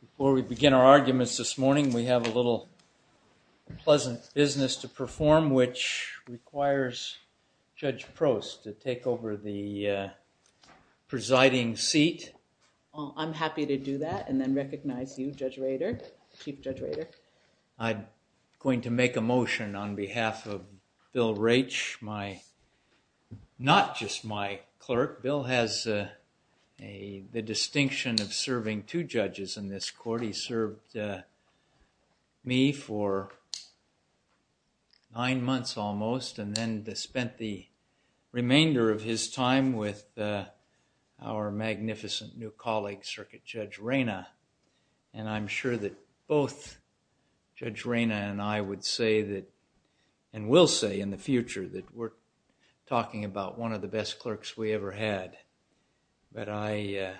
Before we begin our arguments this morning, we have a little pleasant business to perform which requires Judge Prost to take over the presiding seat. I'm happy to do that and then recognize you, Judge Rader, Chief Judge Rader. I'm going to make a motion on behalf of Bill Raich, not just my clerk. Bill has the distinction of serving two judges in this court. He served me for nine months almost and spent the remainder of his time with our magnificent new colleague, Circuit Judge Raina. I'm sure that both Judge Raina and I would say that, and will say in the future, that we're talking about one of the best clerks we ever had. I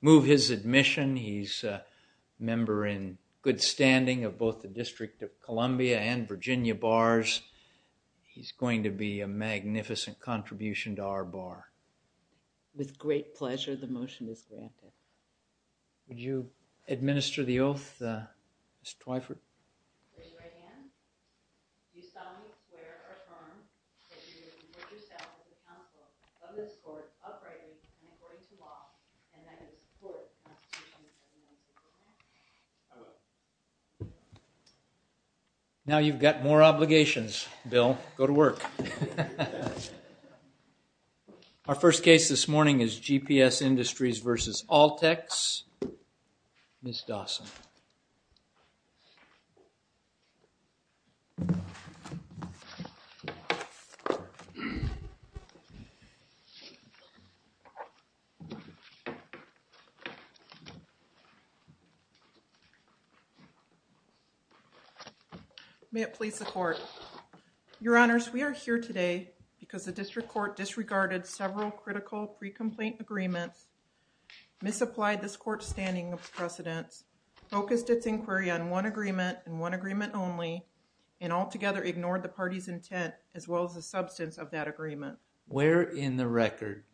move his admission. He's a member in good standing of both the District of Columbia and Virginia bars. He's going to be a magnificent contribution to our bar. With great pleasure, the motion is granted. Would you administer the oath, Ms. Twyford? I will. Now you've got more obligations, Bill. Go to work. Our first case this morning is GPS Industries v. ALTEX. Ms. Dawson. May it please the court. Your honors, we are here today because the district court disregarded several critical pre-complaint agreements, misapplied this court's standing of precedence, focused its inquiry on one agreement and one agreement only, and altogether ignored the party's intent as well as the substance of that agreement. Where in the record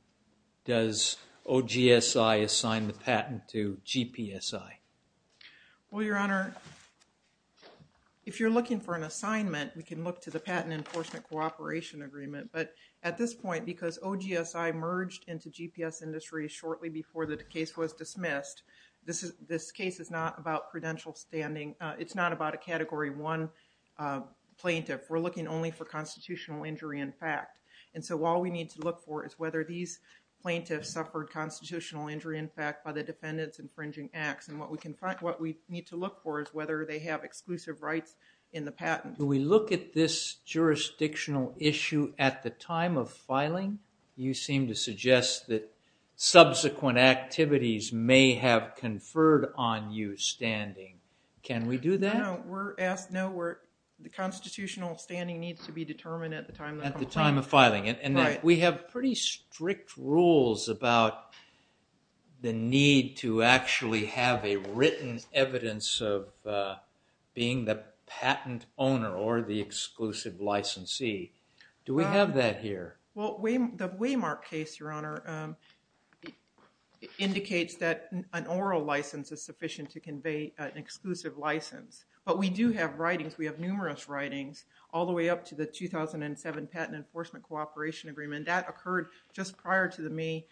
does OGSI assign the patent to GPSI? Well, your honor, if you're looking for an assignment, we can look to the patent enforcement cooperation agreement. But at this point, because OGSI merged into GPS Industries shortly before the case was dismissed, this case is not about credential standing. It's not about a Category 1 plaintiff. We're looking only for constitutional injury in fact. And so all we the defendant's infringing acts. And what we need to look for is whether they have exclusive rights in the patent. Do we look at this jurisdictional issue at the time of filing? You seem to suggest that subsequent activities may have conferred on you standing. Can we do that? No, we're asked, no, the constitutional standing needs to be determined at the time of filing. At the time of filing, we need to actually have a written evidence of being the patent owner or the exclusive licensee. Do we have that here? Well, the Waymark case, your honor, indicates that an oral license is sufficient to convey an exclusive license. But we do have writings, we have numerous writings, all the way up to the 2007 patent enforcement cooperation agreement. That occurred just prior to the May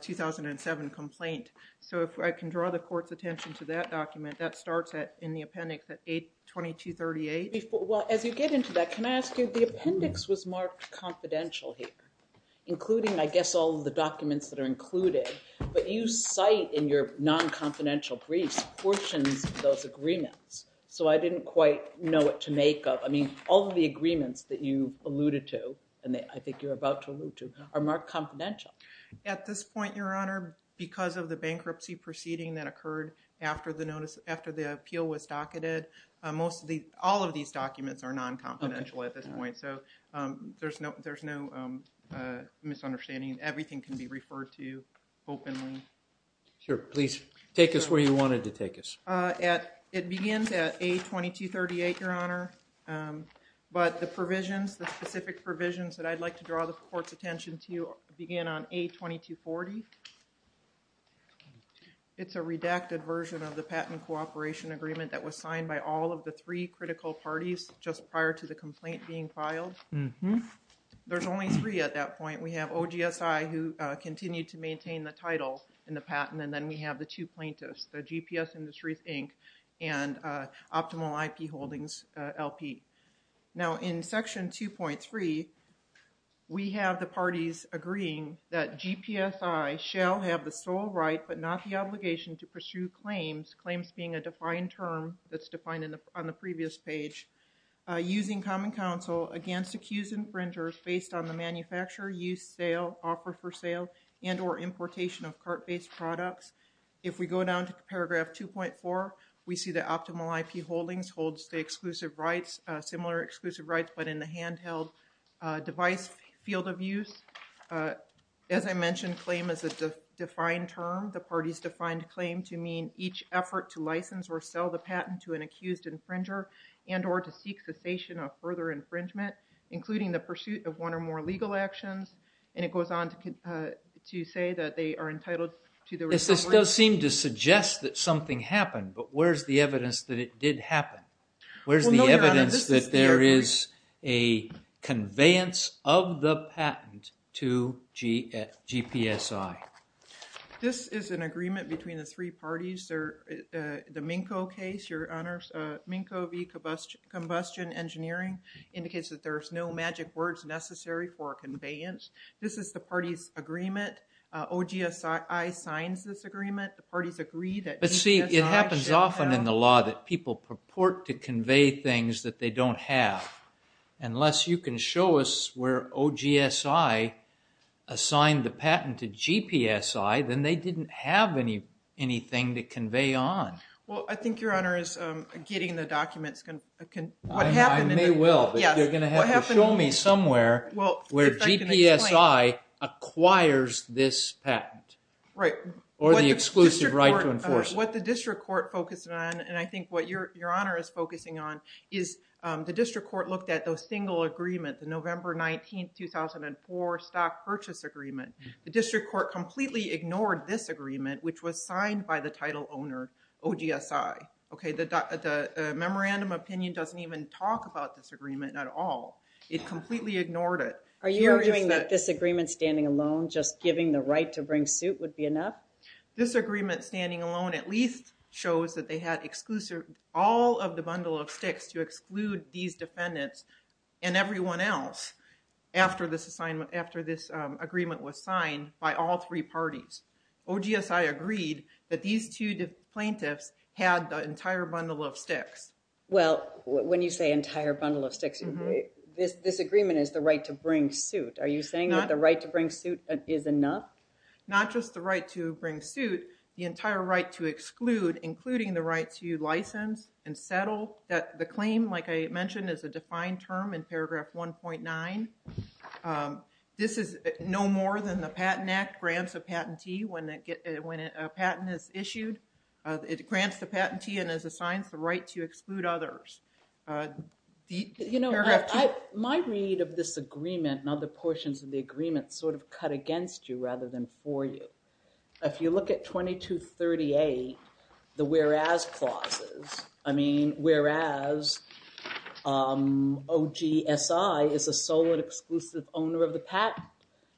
2007 complaint. So if I can draw the court's attention to that document, that starts at in the appendix at 82238. Well, as you get into that, can I ask you, the appendix was marked confidential here, including I guess all the documents that are included. But you cite in your non-confidential briefs portions of those agreements. So I didn't quite know what to make of, I mean, all the agreements that you alluded to, and I think you're about to allude to, are marked confidential. At this point, your honor, because of the bankruptcy proceeding that occurred after the notice, after the appeal was docketed, most of the, all of these documents are non-confidential at this point. So there's no, there's no misunderstanding. Everything can be referred to openly. Sure, please take us where you wanted to take us. At, it begins at 82238, your honor, but the provisions, the specific provisions that I'd like to draw the court's attention to begin on 82240. It's a redacted version of the patent cooperation agreement that was signed by all of the three critical parties just prior to the complaint being filed. There's only three at that point. We have OGSI, who continued to maintain the title in the patent, and then we have the two plaintiffs, the We have the parties agreeing that GPSI shall have the sole right, but not the obligation to pursue claims, claims being a defined term that's defined in the, on the previous page, using common counsel against accused infringers based on the manufacturer, use, sale, offer for sale, and or importation of cart-based products. If we go down to paragraph 2.4, we see the optimal IP holdings holds the rights, similar exclusive rights, but in the handheld device field of use. As I mentioned, claim is a defined term. The parties defined claim to mean each effort to license or sell the patent to an accused infringer and or to seek cessation of further infringement, including the pursuit of one or more legal actions, and it goes on to say that they are entitled to the... This does seem to suggest that something happened, but where's the evidence that it did happen? Where's the evidence that there is a conveyance of the patent to GPSI? This is an agreement between the three parties. The Minco case, your honors, Minco v. Combustion Engineering indicates that there's no magic words necessary for conveyance. This is the party's agreement. OGSI signs this agreement. The parties agree that... It happens often in the law that people purport to convey things that they don't have. Unless you can show us where OGSI assigned the patent to GPSI, then they didn't have anything to convey on. Well, I think your honor is getting the documents. I may well, but you're going to have to show me somewhere where GPSI acquires this patent, or the exclusive right to enforce it. What the district court focused on, and I think what your honor is focusing on, is the district court looked at those single agreements, the November 19, 2004 stock purchase agreement. The district court completely ignored this agreement, which was signed by the title owner, OGSI. The memorandum opinion doesn't even talk about this agreement at all. It completely ignored it. Are you arguing that this agreement standing alone, just giving the right to bring suit would be enough? This agreement standing alone at least shows that they had all of the bundle of sticks to exclude these defendants and everyone else after this agreement was signed by all three parties. OGSI agreed that these two plaintiffs had the entire bundle of sticks. Well, when you say entire bundle of sticks, this agreement is the right to bring suit. Are you saying that the right to bring suit is enough? Not just the right to bring suit, the entire right to exclude, including the right to license and settle. The claim, like I mentioned, is a defined term in paragraph 1.9. This is no more than the Patent Act grants a patentee when a patent is issued. It grants the patentee and assigns the right to exclude others. My read of this agreement and other portions of the agreement sort of cut against you rather than for you. If you look at 2238, the whereas clauses, I mean, whereas OGSI is a sole and exclusive owner of the patent.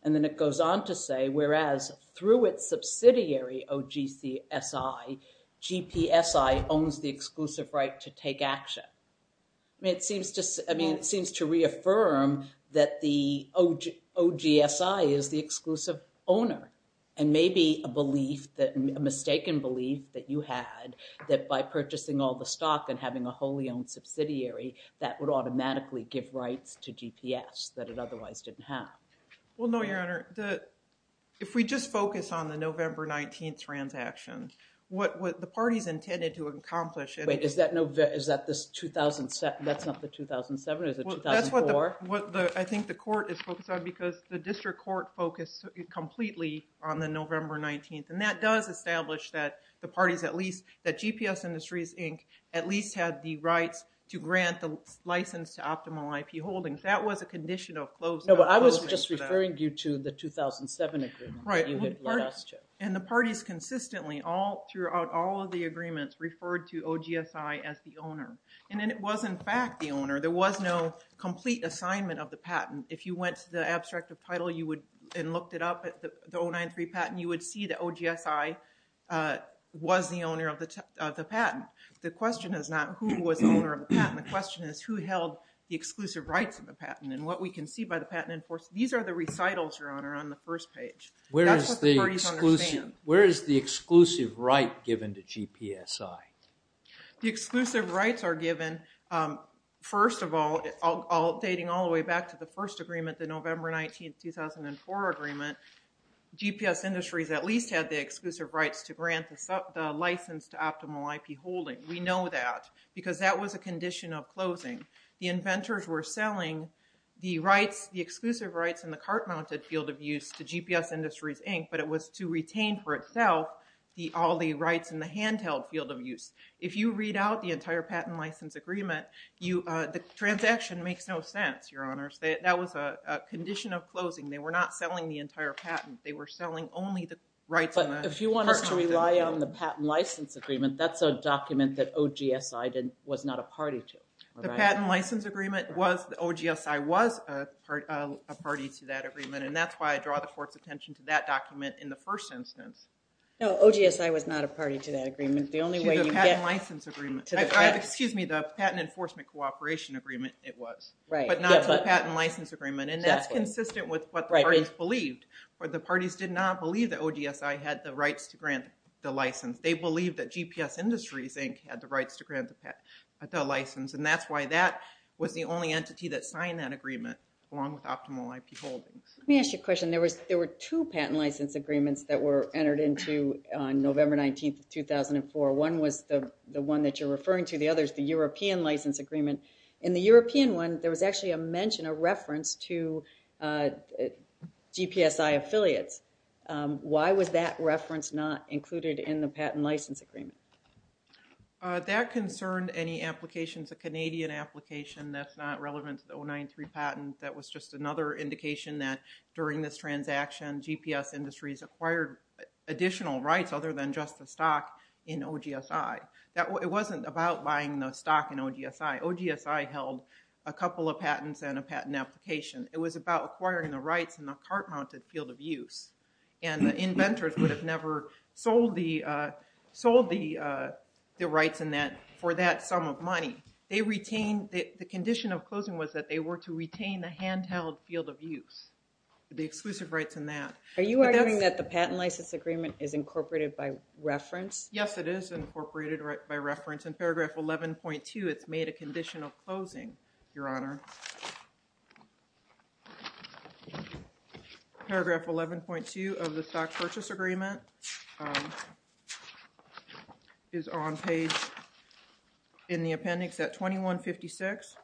And then it goes on to say, whereas through its subsidiary OGSI, GPSI owns the exclusive right to take action. I mean, it seems to reaffirm that the OGSI is the exclusive owner and maybe a mistaken belief that you had that by purchasing all the stock and having a wholly owned subsidiary, that would automatically give rights to GPS that it didn't have. Well, no, Your Honor. If we just focus on the November 19th transaction, what the parties intended to accomplish... Wait, is that this 2007? That's not the 2007, is it 2004? That's what I think the court is focused on because the district court focused completely on the November 19th. And that does establish that the parties at least, that GPS Industries Inc. at least had the rights to grant the license to optimal IP holdings. That was a condition of close... No, but I was just referring you to the 2007 agreement. And the parties consistently all throughout all of the agreements referred to OGSI as the owner. And then it was in fact the owner. There was no complete assignment of the patent. If you went to the abstract of title and looked it up at the 093 patent, you would see that OGSI was the owner of the patent. The question is not who was the owner of the patent, the question is who held the exclusive rights of the patent and what we can see by the patent enforcement. These are the recitals, Your Honor, on the first page. That's what the parties understand. Where is the exclusive right given to GPSI? The exclusive rights are given, first of all, dating all the way back to the first agreement, the November 19th, 2004 agreement, GPS Industries at least had the exclusive rights to grant the license to optimal IP holding. We know that because that was a condition of closing. The inventors were selling the exclusive rights in the cart-mounted field of use to GPS Industries, Inc., but it was to retain for itself all the rights in the handheld field of use. If you read out the entire patent license agreement, the transaction makes no sense, Your Honors. That was a condition of closing. They were not selling the entire patent. They were selling only the rights in the cart-mounted field. If you want us to rely on the patent license agreement, that's a document that OGSI was not a party to. The patent license agreement was, the OGSI was a party to that agreement, and that's why I draw the court's attention to that document in the first instance. No, OGSI was not a party to that agreement. The patent license agreement, excuse me, the patent enforcement cooperation agreement, it was, but not the patent license agreement, and that's consistent with what the parties did not believe that OGSI had the rights to grant the license. They believed that GPS Industries, Inc. had the rights to grant the license, and that's why that was the only entity that signed that agreement along with Optimal IP Holdings. Let me ask you a question. There were two patent license agreements that were entered into on November 19, 2004. One was the one that you're referring to. The other is the European license agreement. In the European one, there was actually a mention, a reference to GPSI affiliates. Why was that reference not included in the patent license agreement? That concerned any applications, a Canadian application that's not relevant to the 093 patent. That was just another indication that during this transaction, GPS Industries acquired additional rights other than just the stock in OGSI. It wasn't about buying the stock in OGSI. OGSI held a couple of patents and a patent application. It was about acquiring the rights in the cart-mounted field of use, and the inventors would have never sold the rights in that for that sum of money. They retained, the condition of closing was that they were to retain the handheld field of use, the exclusive rights in that. Are you arguing that the patent license agreement is incorporated by reference? Yes, it is incorporated by reference, in paragraph 11.2, it's made a condition of closing, your honor. Paragraph 11.2 of the stock purchase agreement is on page, in the appendix at 2156.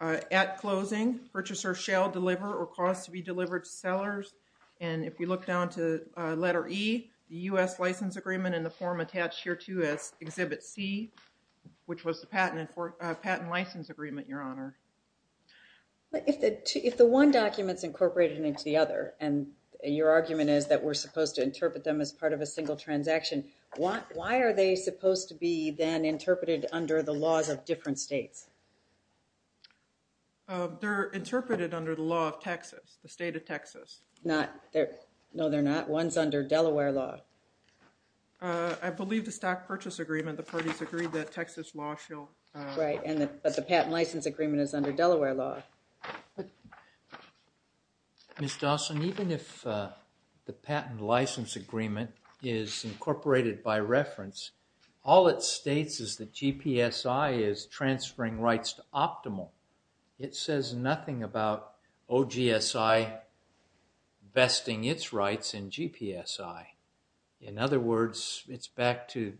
At closing, purchaser shall deliver or cause to be delivered to sellers, and if we look down to letter E, the U.S. license agreement in the form attached here exhibit C, which was the patent license agreement, your honor. If the one document's incorporated into the other, and your argument is that we're supposed to interpret them as part of a single transaction, why are they supposed to be then interpreted under the laws of different states? They're interpreted under the law of Texas, the state of Texas. No, they're not. One's under Delaware law. I believe the stock purchase agreement, the parties agreed that Texas law shall... Right, but the patent license agreement is under Delaware law. Ms. Dawson, even if the patent license agreement is incorporated by reference, all it states is that GPSI is transferring rights to Optimal. It says nothing about OGSI vesting its rights in GPSI. In other words, it's back to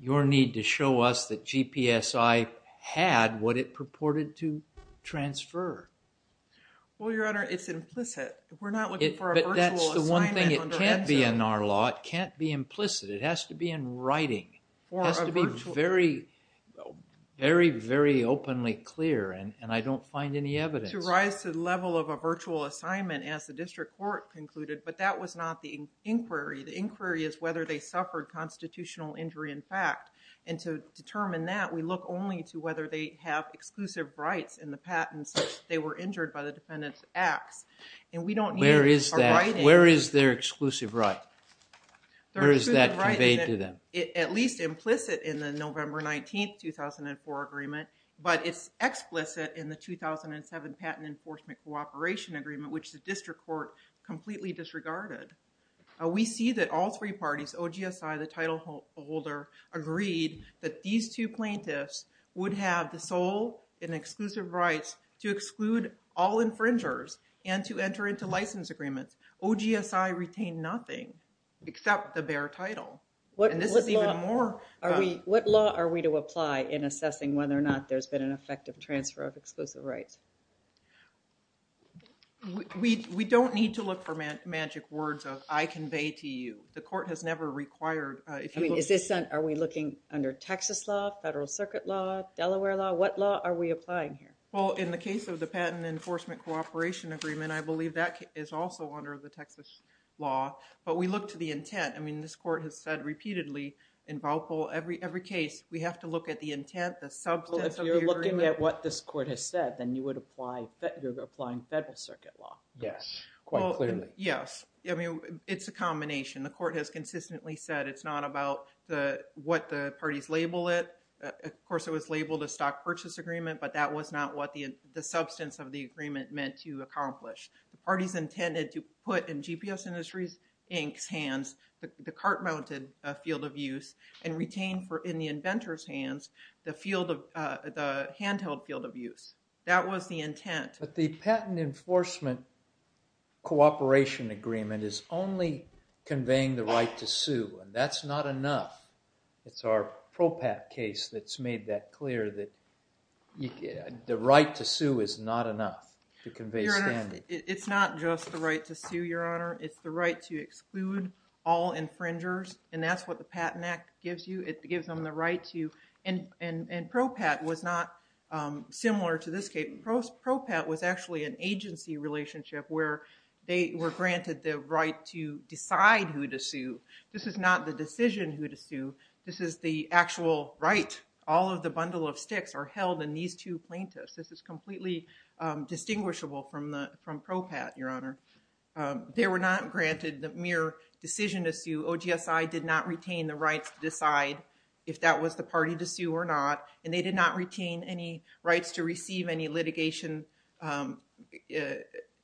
your need to show us that GPSI had what it purported to transfer. Well, your honor, it's implicit. We're not looking for a virtual assignment. But that's the one thing, it can't be in our law, it can't be implicit. It has to be in writing. It has to be very, very, very openly clear, and I don't find any evidence. To rise to the level of a virtual assignment, as the district court concluded, but that was not the inquiry. The inquiry is whether they suffered constitutional injury in fact. And to determine that, we look only to whether they have exclusive rights in the patent such that they were injured by the defendant's acts. And we don't need a writing. Where is their exclusive right? Where is that conveyed to them? At least implicit in the November 19th 2004 agreement, but it's explicit in the 2007 patent enforcement cooperation agreement, which the district court completely disregarded. We see that all three parties, OGSI, the title holder, agreed that these two plaintiffs would have the rights to exclude all infringers and to enter into license agreements. OGSI retained nothing except the bare title. What law are we to apply in assessing whether or not there's been an effective transfer of exclusive rights? We don't need to look for magic words of, I convey to you. The court has never required. Are we looking under Texas law, federal circuit law, Delaware law? What law are we applying here? Well, in the case of the patent enforcement cooperation agreement, I believe that is also under the Texas law, but we look to the intent. I mean, this court has said repeatedly in every case, we have to look at the intent, the substance of the agreement. Well, if you're looking at what this court has said, then you would apply, you're applying federal circuit law. Yes, quite clearly. Yes. I mean, it's a combination. The court has consistently said it's not about what the parties label it. Of course, it was labeled a stock purchase agreement, but that was not what the substance of the agreement meant to accomplish. The parties intended to put in GPS Industries Inc.'s hands, the cart-mounted field of use, and retain in the inventor's hands, the handheld field of use. That was the intent. But the patent enforcement cooperation agreement is only conveying the right to sue, and that's not enough. It's our PROPAT case that's made that clear that the right to sue is not enough to convey standards. It's not just the right to sue, Your Honor. It's the right to exclude all infringers, and that's what the Patent Act gives you. It gives them the right to, and PROPAT was not similar to this case. PROPAT was actually an agency relationship where they were granted the right to decide who to sue. This is not the decision who to sue. This is the actual right. All of the bundle of sticks are held in these two plaintiffs. This is completely distinguishable from PROPAT, Your Honor. They were not granted the mere decision to sue. OGSI did not retain the rights to decide if that was the party to sue or not, and they did not retain any to receive any litigation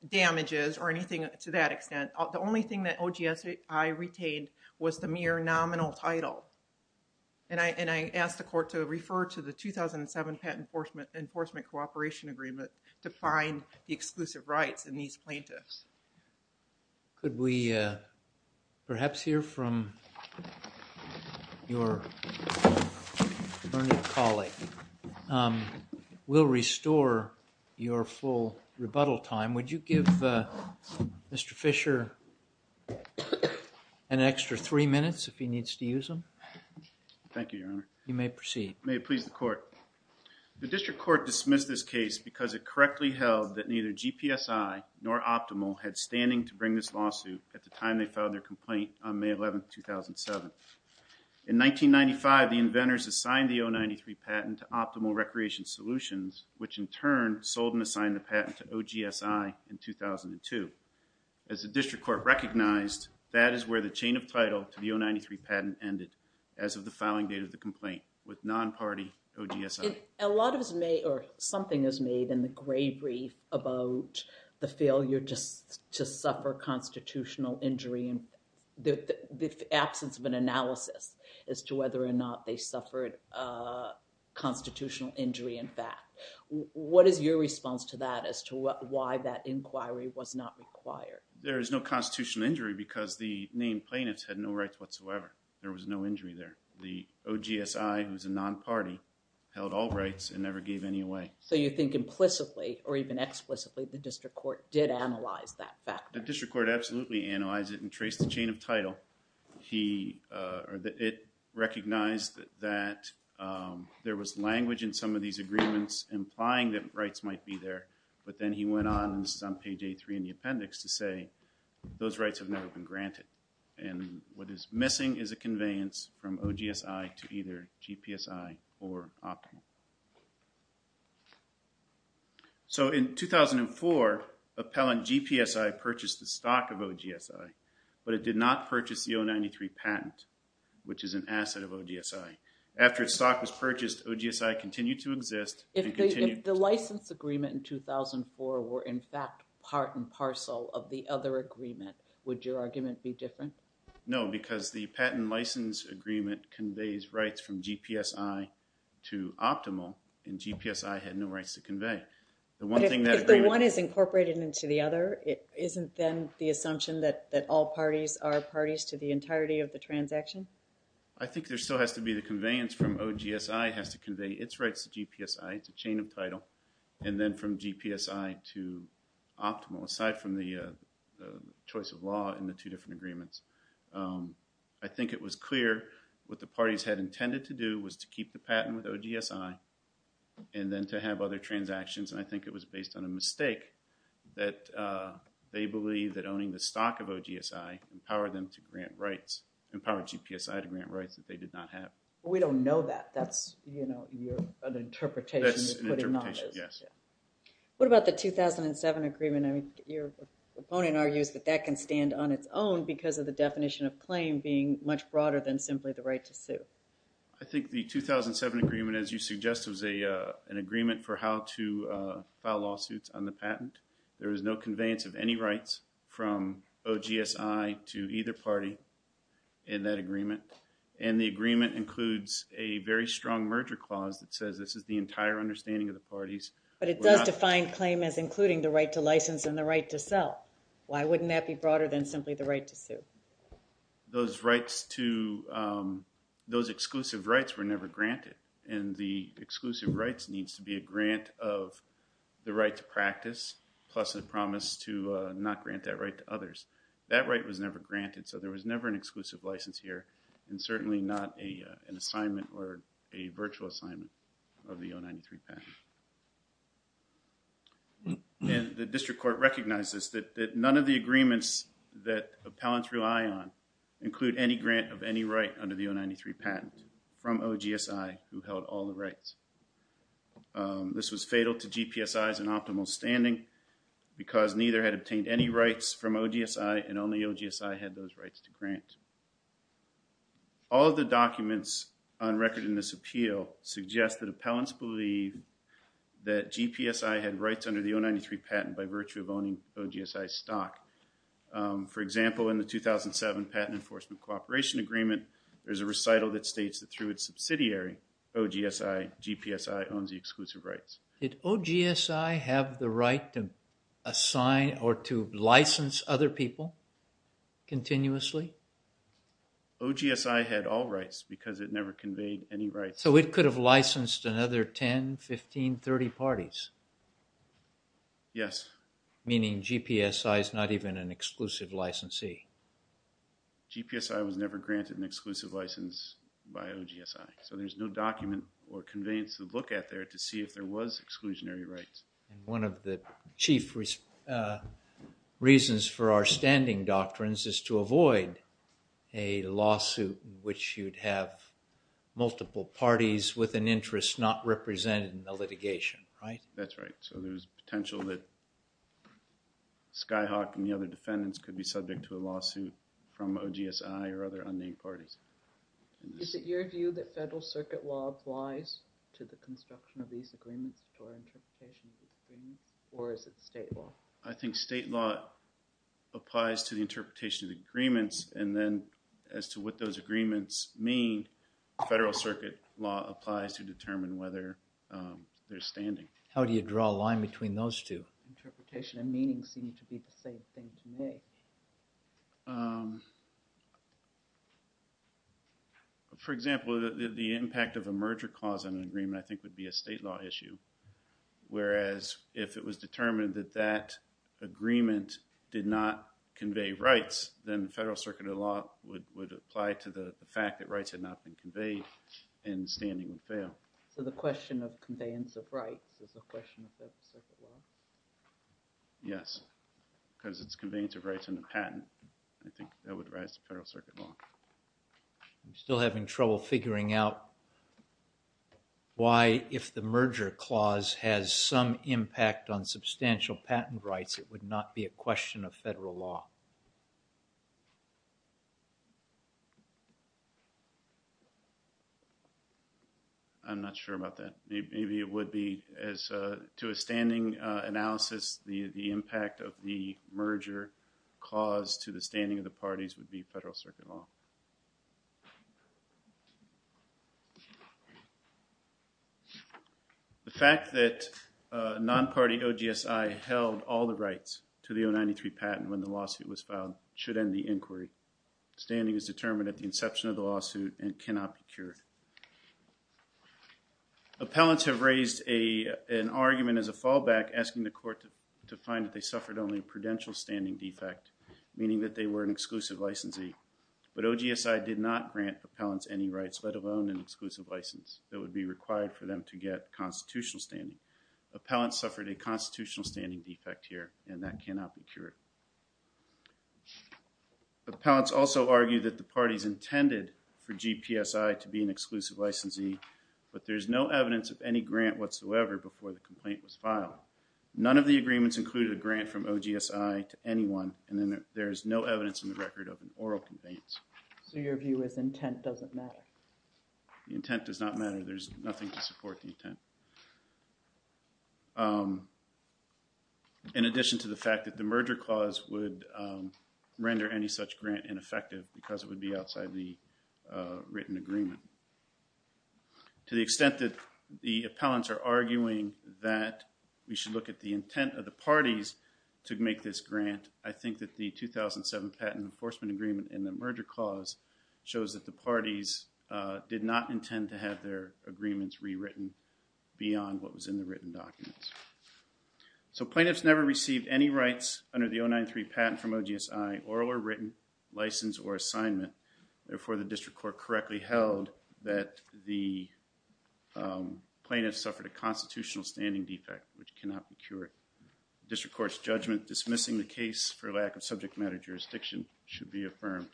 damages or anything to that extent. The only thing that OGSI retained was the mere nominal title, and I asked the court to refer to the 2007 patent enforcement enforcement cooperation agreement to find the exclusive rights in these plaintiffs. Could we perhaps hear from your colleague? We'll restore your full rebuttal time. Would you give Mr. Fisher an extra three minutes if he needs to use them? Thank you, Your Honor. You may proceed. May it please the court. The district court dismissed this case because it correctly held that neither GPSI nor Optimal had standing to bring this lawsuit at the time they filed their complaint on May 11, 2007. In 1995, the inventors assigned the 093 patent to Optimal Recreation Solutions, which in turn sold and assigned the patent to OGSI in 2002. As the district court recognized, that is where the chain of title to the 093 patent ended as of the filing date of the the failure just to suffer constitutional injury and the absence of an analysis as to whether or not they suffered a constitutional injury in fact. What is your response to that as to why that inquiry was not required? There is no constitutional injury because the named plaintiffs had no rights whatsoever. There was no injury there. The OGSI, who's a non-party, held all rights and never gave any away. So you think implicitly or even explicitly the district court did analyze that fact? The district court absolutely analyzed it and traced the chain of title. He, uh, or it recognized that, um, there was language in some of these agreements implying that rights might be there but then he went on, this is on page 83 in the appendix, to say those rights have never been So in 2004, Appellant GPSI purchased the stock of OGSI, but it did not purchase the 093 patent, which is an asset of OGSI. After its stock was purchased, OGSI continued to exist. If the license agreement in 2004 were in fact part and parcel of the other agreement, would your argument be different? No, because the patent license agreement conveys rights from GPSI to Optimal and GPSI had no rights to convey. But if the one is incorporated into the other, isn't then the assumption that all parties are parties to the entirety of the transaction? I think there still has to be the conveyance from OGSI has to convey its rights to GPSI, it's a chain of title, and then from GPSI to Optimal, aside from the choice of law in the two different agreements. I think it was clear what the parties had intended to do was to keep the patent with OGSI and then to have other transactions, and I think it was based on a mistake that they believe that owning the stock of OGSI empowered them to grant rights, empowered GPSI to grant rights that they did not have. We don't know that, that's, you know, your interpretation. That's an interpretation, yes. What about the 2007 agreement? I mean, your opponent argues that that can stand on its own because of the definition of claim being much broader than simply the right to sue. I think the 2007 agreement, as you suggest, was an agreement for how to file lawsuits on the patent. There is no conveyance of any rights from OGSI to either party in that agreement, and the agreement includes a very strong merger clause that says this is the entire understanding of the parties. But it does define claim as including the right to license and the right to sell. Why wouldn't that be broader than simply the right to sue? Those rights to, um, those exclusive rights were never granted, and the exclusive rights needs to be a grant of the right to practice, plus a promise to not grant that right to others. That right was never granted, so there was never an exclusive license here, and certainly not an assignment or a virtual assignment of the O93 patent. And the district court recognizes that none of the agreements that appellants rely on include any grant of any right under the O93 patent from OGSI, who held all the rights. This was fatal to GPSI's and optimal standing because neither had obtained any rights from OGSI, and only OGSI had those that GPSI had rights under the O93 patent by virtue of owning OGSI stock. For example, in the 2007 patent enforcement cooperation agreement, there's a recital that states that through its subsidiary, OGSI, GPSI owns the exclusive rights. Did OGSI have the right to assign or to license other people continuously? OGSI had all rights because it never conveyed any rights. So it could have licensed another 10, 15, 30 parties? Yes. Meaning GPSI is not even an exclusive licensee? GPSI was never granted an exclusive license by OGSI, so there's no document or conveyance to look at there to see if there was exclusionary rights. And one of the chief reasons for our an interest not represented in the litigation, right? That's right. So there's potential that Skyhawk and the other defendants could be subject to a lawsuit from OGSI or other unnamed parties. Is it your view that federal circuit law applies to the construction of these agreements or interpretation of these agreements, or is it state law? I think state law applies to the interpretation of the agreements and then as to what those agreements mean, federal circuit law applies to determine whether they're standing. How do you draw a line between those two? Interpretation and meaning seem to be the same thing to me. For example, the impact of a merger clause on an agreement I think would be a state law issue, whereas if it was determined that that agreement did not convey rights, then the federal circuit of law would apply to the fact that rights had not been conveyed and standing would fail. So the question of conveyance of rights is a question of federal circuit law? Yes, because it's conveyance of rights in a patent. I think that would rise to federal circuit law. I'm still having trouble figuring out why if the merger clause has some question of federal law. I'm not sure about that. Maybe it would be as to a standing analysis, the impact of the merger clause to the standing of the parties would be federal circuit law. The fact that a non-party OGSI held all the rights to the 093 patent when the lawsuit was filed should end the inquiry. Standing is determined at the inception of the lawsuit and cannot be cured. Appellants have raised an argument as a fallback asking the court to find that they suffered only a prudential standing defect, meaning that they were an exclusive licensee, but OGSI did not grant appellants any rights, let alone an exclusive license that would be required for them to get constitutional standing. Appellants suffered a constitutional standing defect here and that cannot be cured. Appellants also argue that the parties intended for GPSI to be an exclusive licensee, but there's no evidence of any grant whatsoever before the complaint was filed. None of the agreements included a grant from OGSI to anyone and then there is no evidence in the record of an oral conveyance. So your view is intent doesn't matter? The intent does not matter. There's nothing to support the intent. In addition to the fact that the merger clause would render any such grant ineffective because it would be outside the written agreement. To the extent that the appellants are arguing that we should look at the intent of the parties to make this grant, I think that the 2007 patent enforcement agreement in the merger clause shows that the parties did not intend to have their agreements rewritten beyond what was in the written documents. So plaintiffs never received any rights under the 093 patent from OGSI, oral or written, license or assignment. Therefore, the District Court correctly held that the plaintiff suffered a constitutional standing defect which cannot be cured. District Court's judgment dismissing the case for lack of subject matter jurisdiction should be affirmed.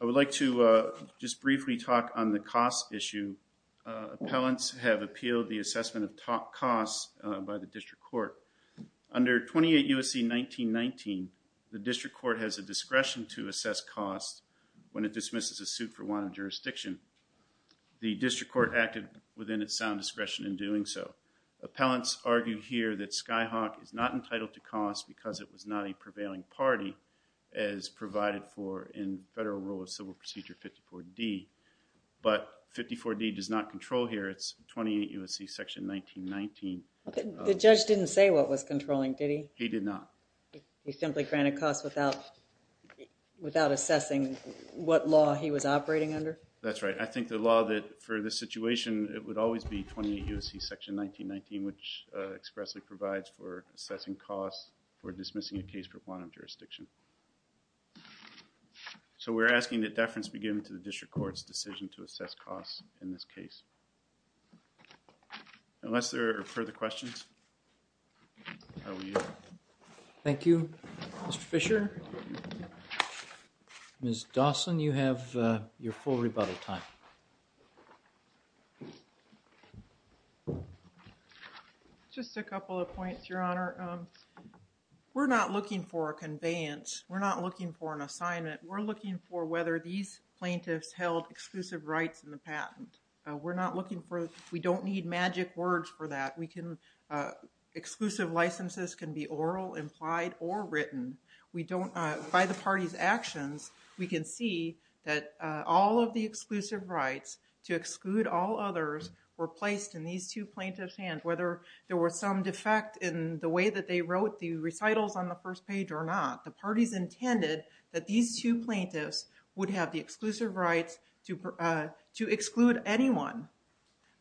I would like to just briefly talk on the cost issue. Appellants have appealed the assessment of top costs by the District Court. Under 28 U.S.C. 1919, the District Court has a discretion to assess costs when it dismisses a suit for wanted jurisdiction. The District Court acted within its sound discretion in doing so. Appellants argued here that Skyhawk is not entitled to cost because it was not a prevailing party as provided for in Federal Rule of Civil Procedure 54D, but 54D does not control here. It's 28 U.S.C. section 1919. The judge didn't say what was controlling, did he? He did not. He simply granted costs without assessing what law he was operating under? That's right. I think the law that for this situation, it would always be 28 U.S.C. section 1919 which expressly provides for assessing costs for dismissing a case for wanted jurisdiction. So we're asking that deference be given to the District Court's decision to assess costs in this case. Unless there are further questions. Thank you, Mr. Fisher. Ms. Dawson, you have your full rebuttal time. Just a couple of points, Your Honor. We're not looking for a conveyance. We're not looking for We're not looking for, we don't need magic words for that. We can, exclusive licenses can be oral, implied, or written. We don't, by the party's actions, we can see that all of the exclusive rights to exclude all others were placed in these two plaintiffs' hands. Whether there were some defect in the way that they wrote the recitals on the first page or not, the parties intended that these two plaintiffs would have the exclusive rights to exclude anyone.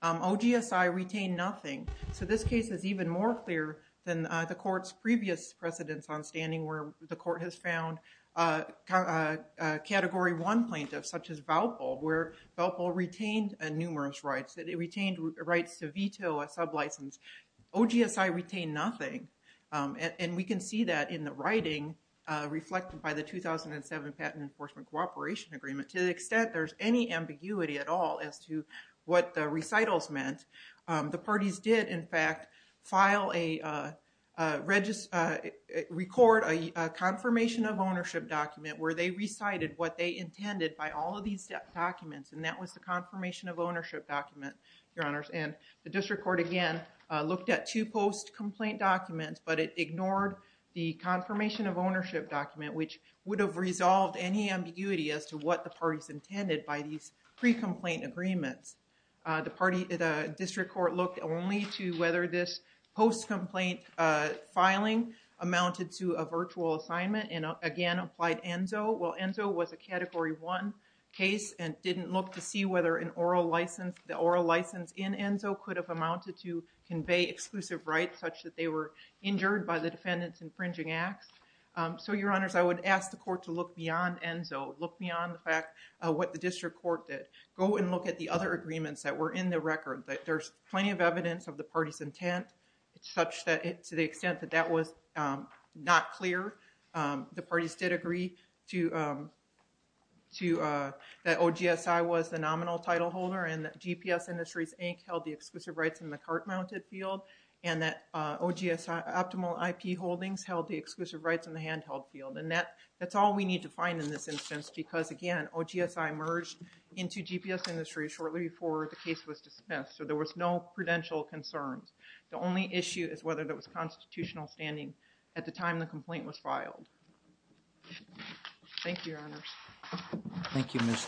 OGSI retained nothing. So this case is even more clear than the court's previous precedence on standing where the court has found Category 1 plaintiffs such as Valpo where Valpo retained numerous rights. It retained rights to veto a sublicense. OGSI retained nothing and we can see that in the writing reflected by the 2007 Patent Enforcement Cooperation Agreement. To the extent there's any ambiguity at all as to what the recitals meant, the parties did in fact record a confirmation of ownership document where they recited what they intended by all of these documents and that was the confirmation of ownership document, Your Honors, and the district court again looked at two post-complaint documents but it ignored the confirmation of intended by these pre-complaint agreements. The district court looked only to whether this post-complaint filing amounted to a virtual assignment and again applied ENZO. Well, ENZO was a Category 1 case and didn't look to see whether the oral license in ENZO could have amounted to convey exclusive rights such that they were injured by the defendant's infringing acts. So, Your Honors, I would ask the court to look beyond ENZO, look beyond the fact of what the district court did. Go and look at the other agreements that were in the record. There's plenty of evidence of the party's intent such that to the extent that that was not clear, the parties did agree to that OGSI was the nominal title holder and that GPS Industries Inc. held the exclusive rights in the cart-mounted field and that OGSI Optimal IP Holdings held the exclusive hand-held field and that that's all we need to find in this instance because again OGSI merged into GPS Industries shortly before the case was dismissed. So, there was no prudential concerns. The only issue is whether there was constitutional standing at the time the complaint was filed. Thank you, Your Honors. Thank you, Ms.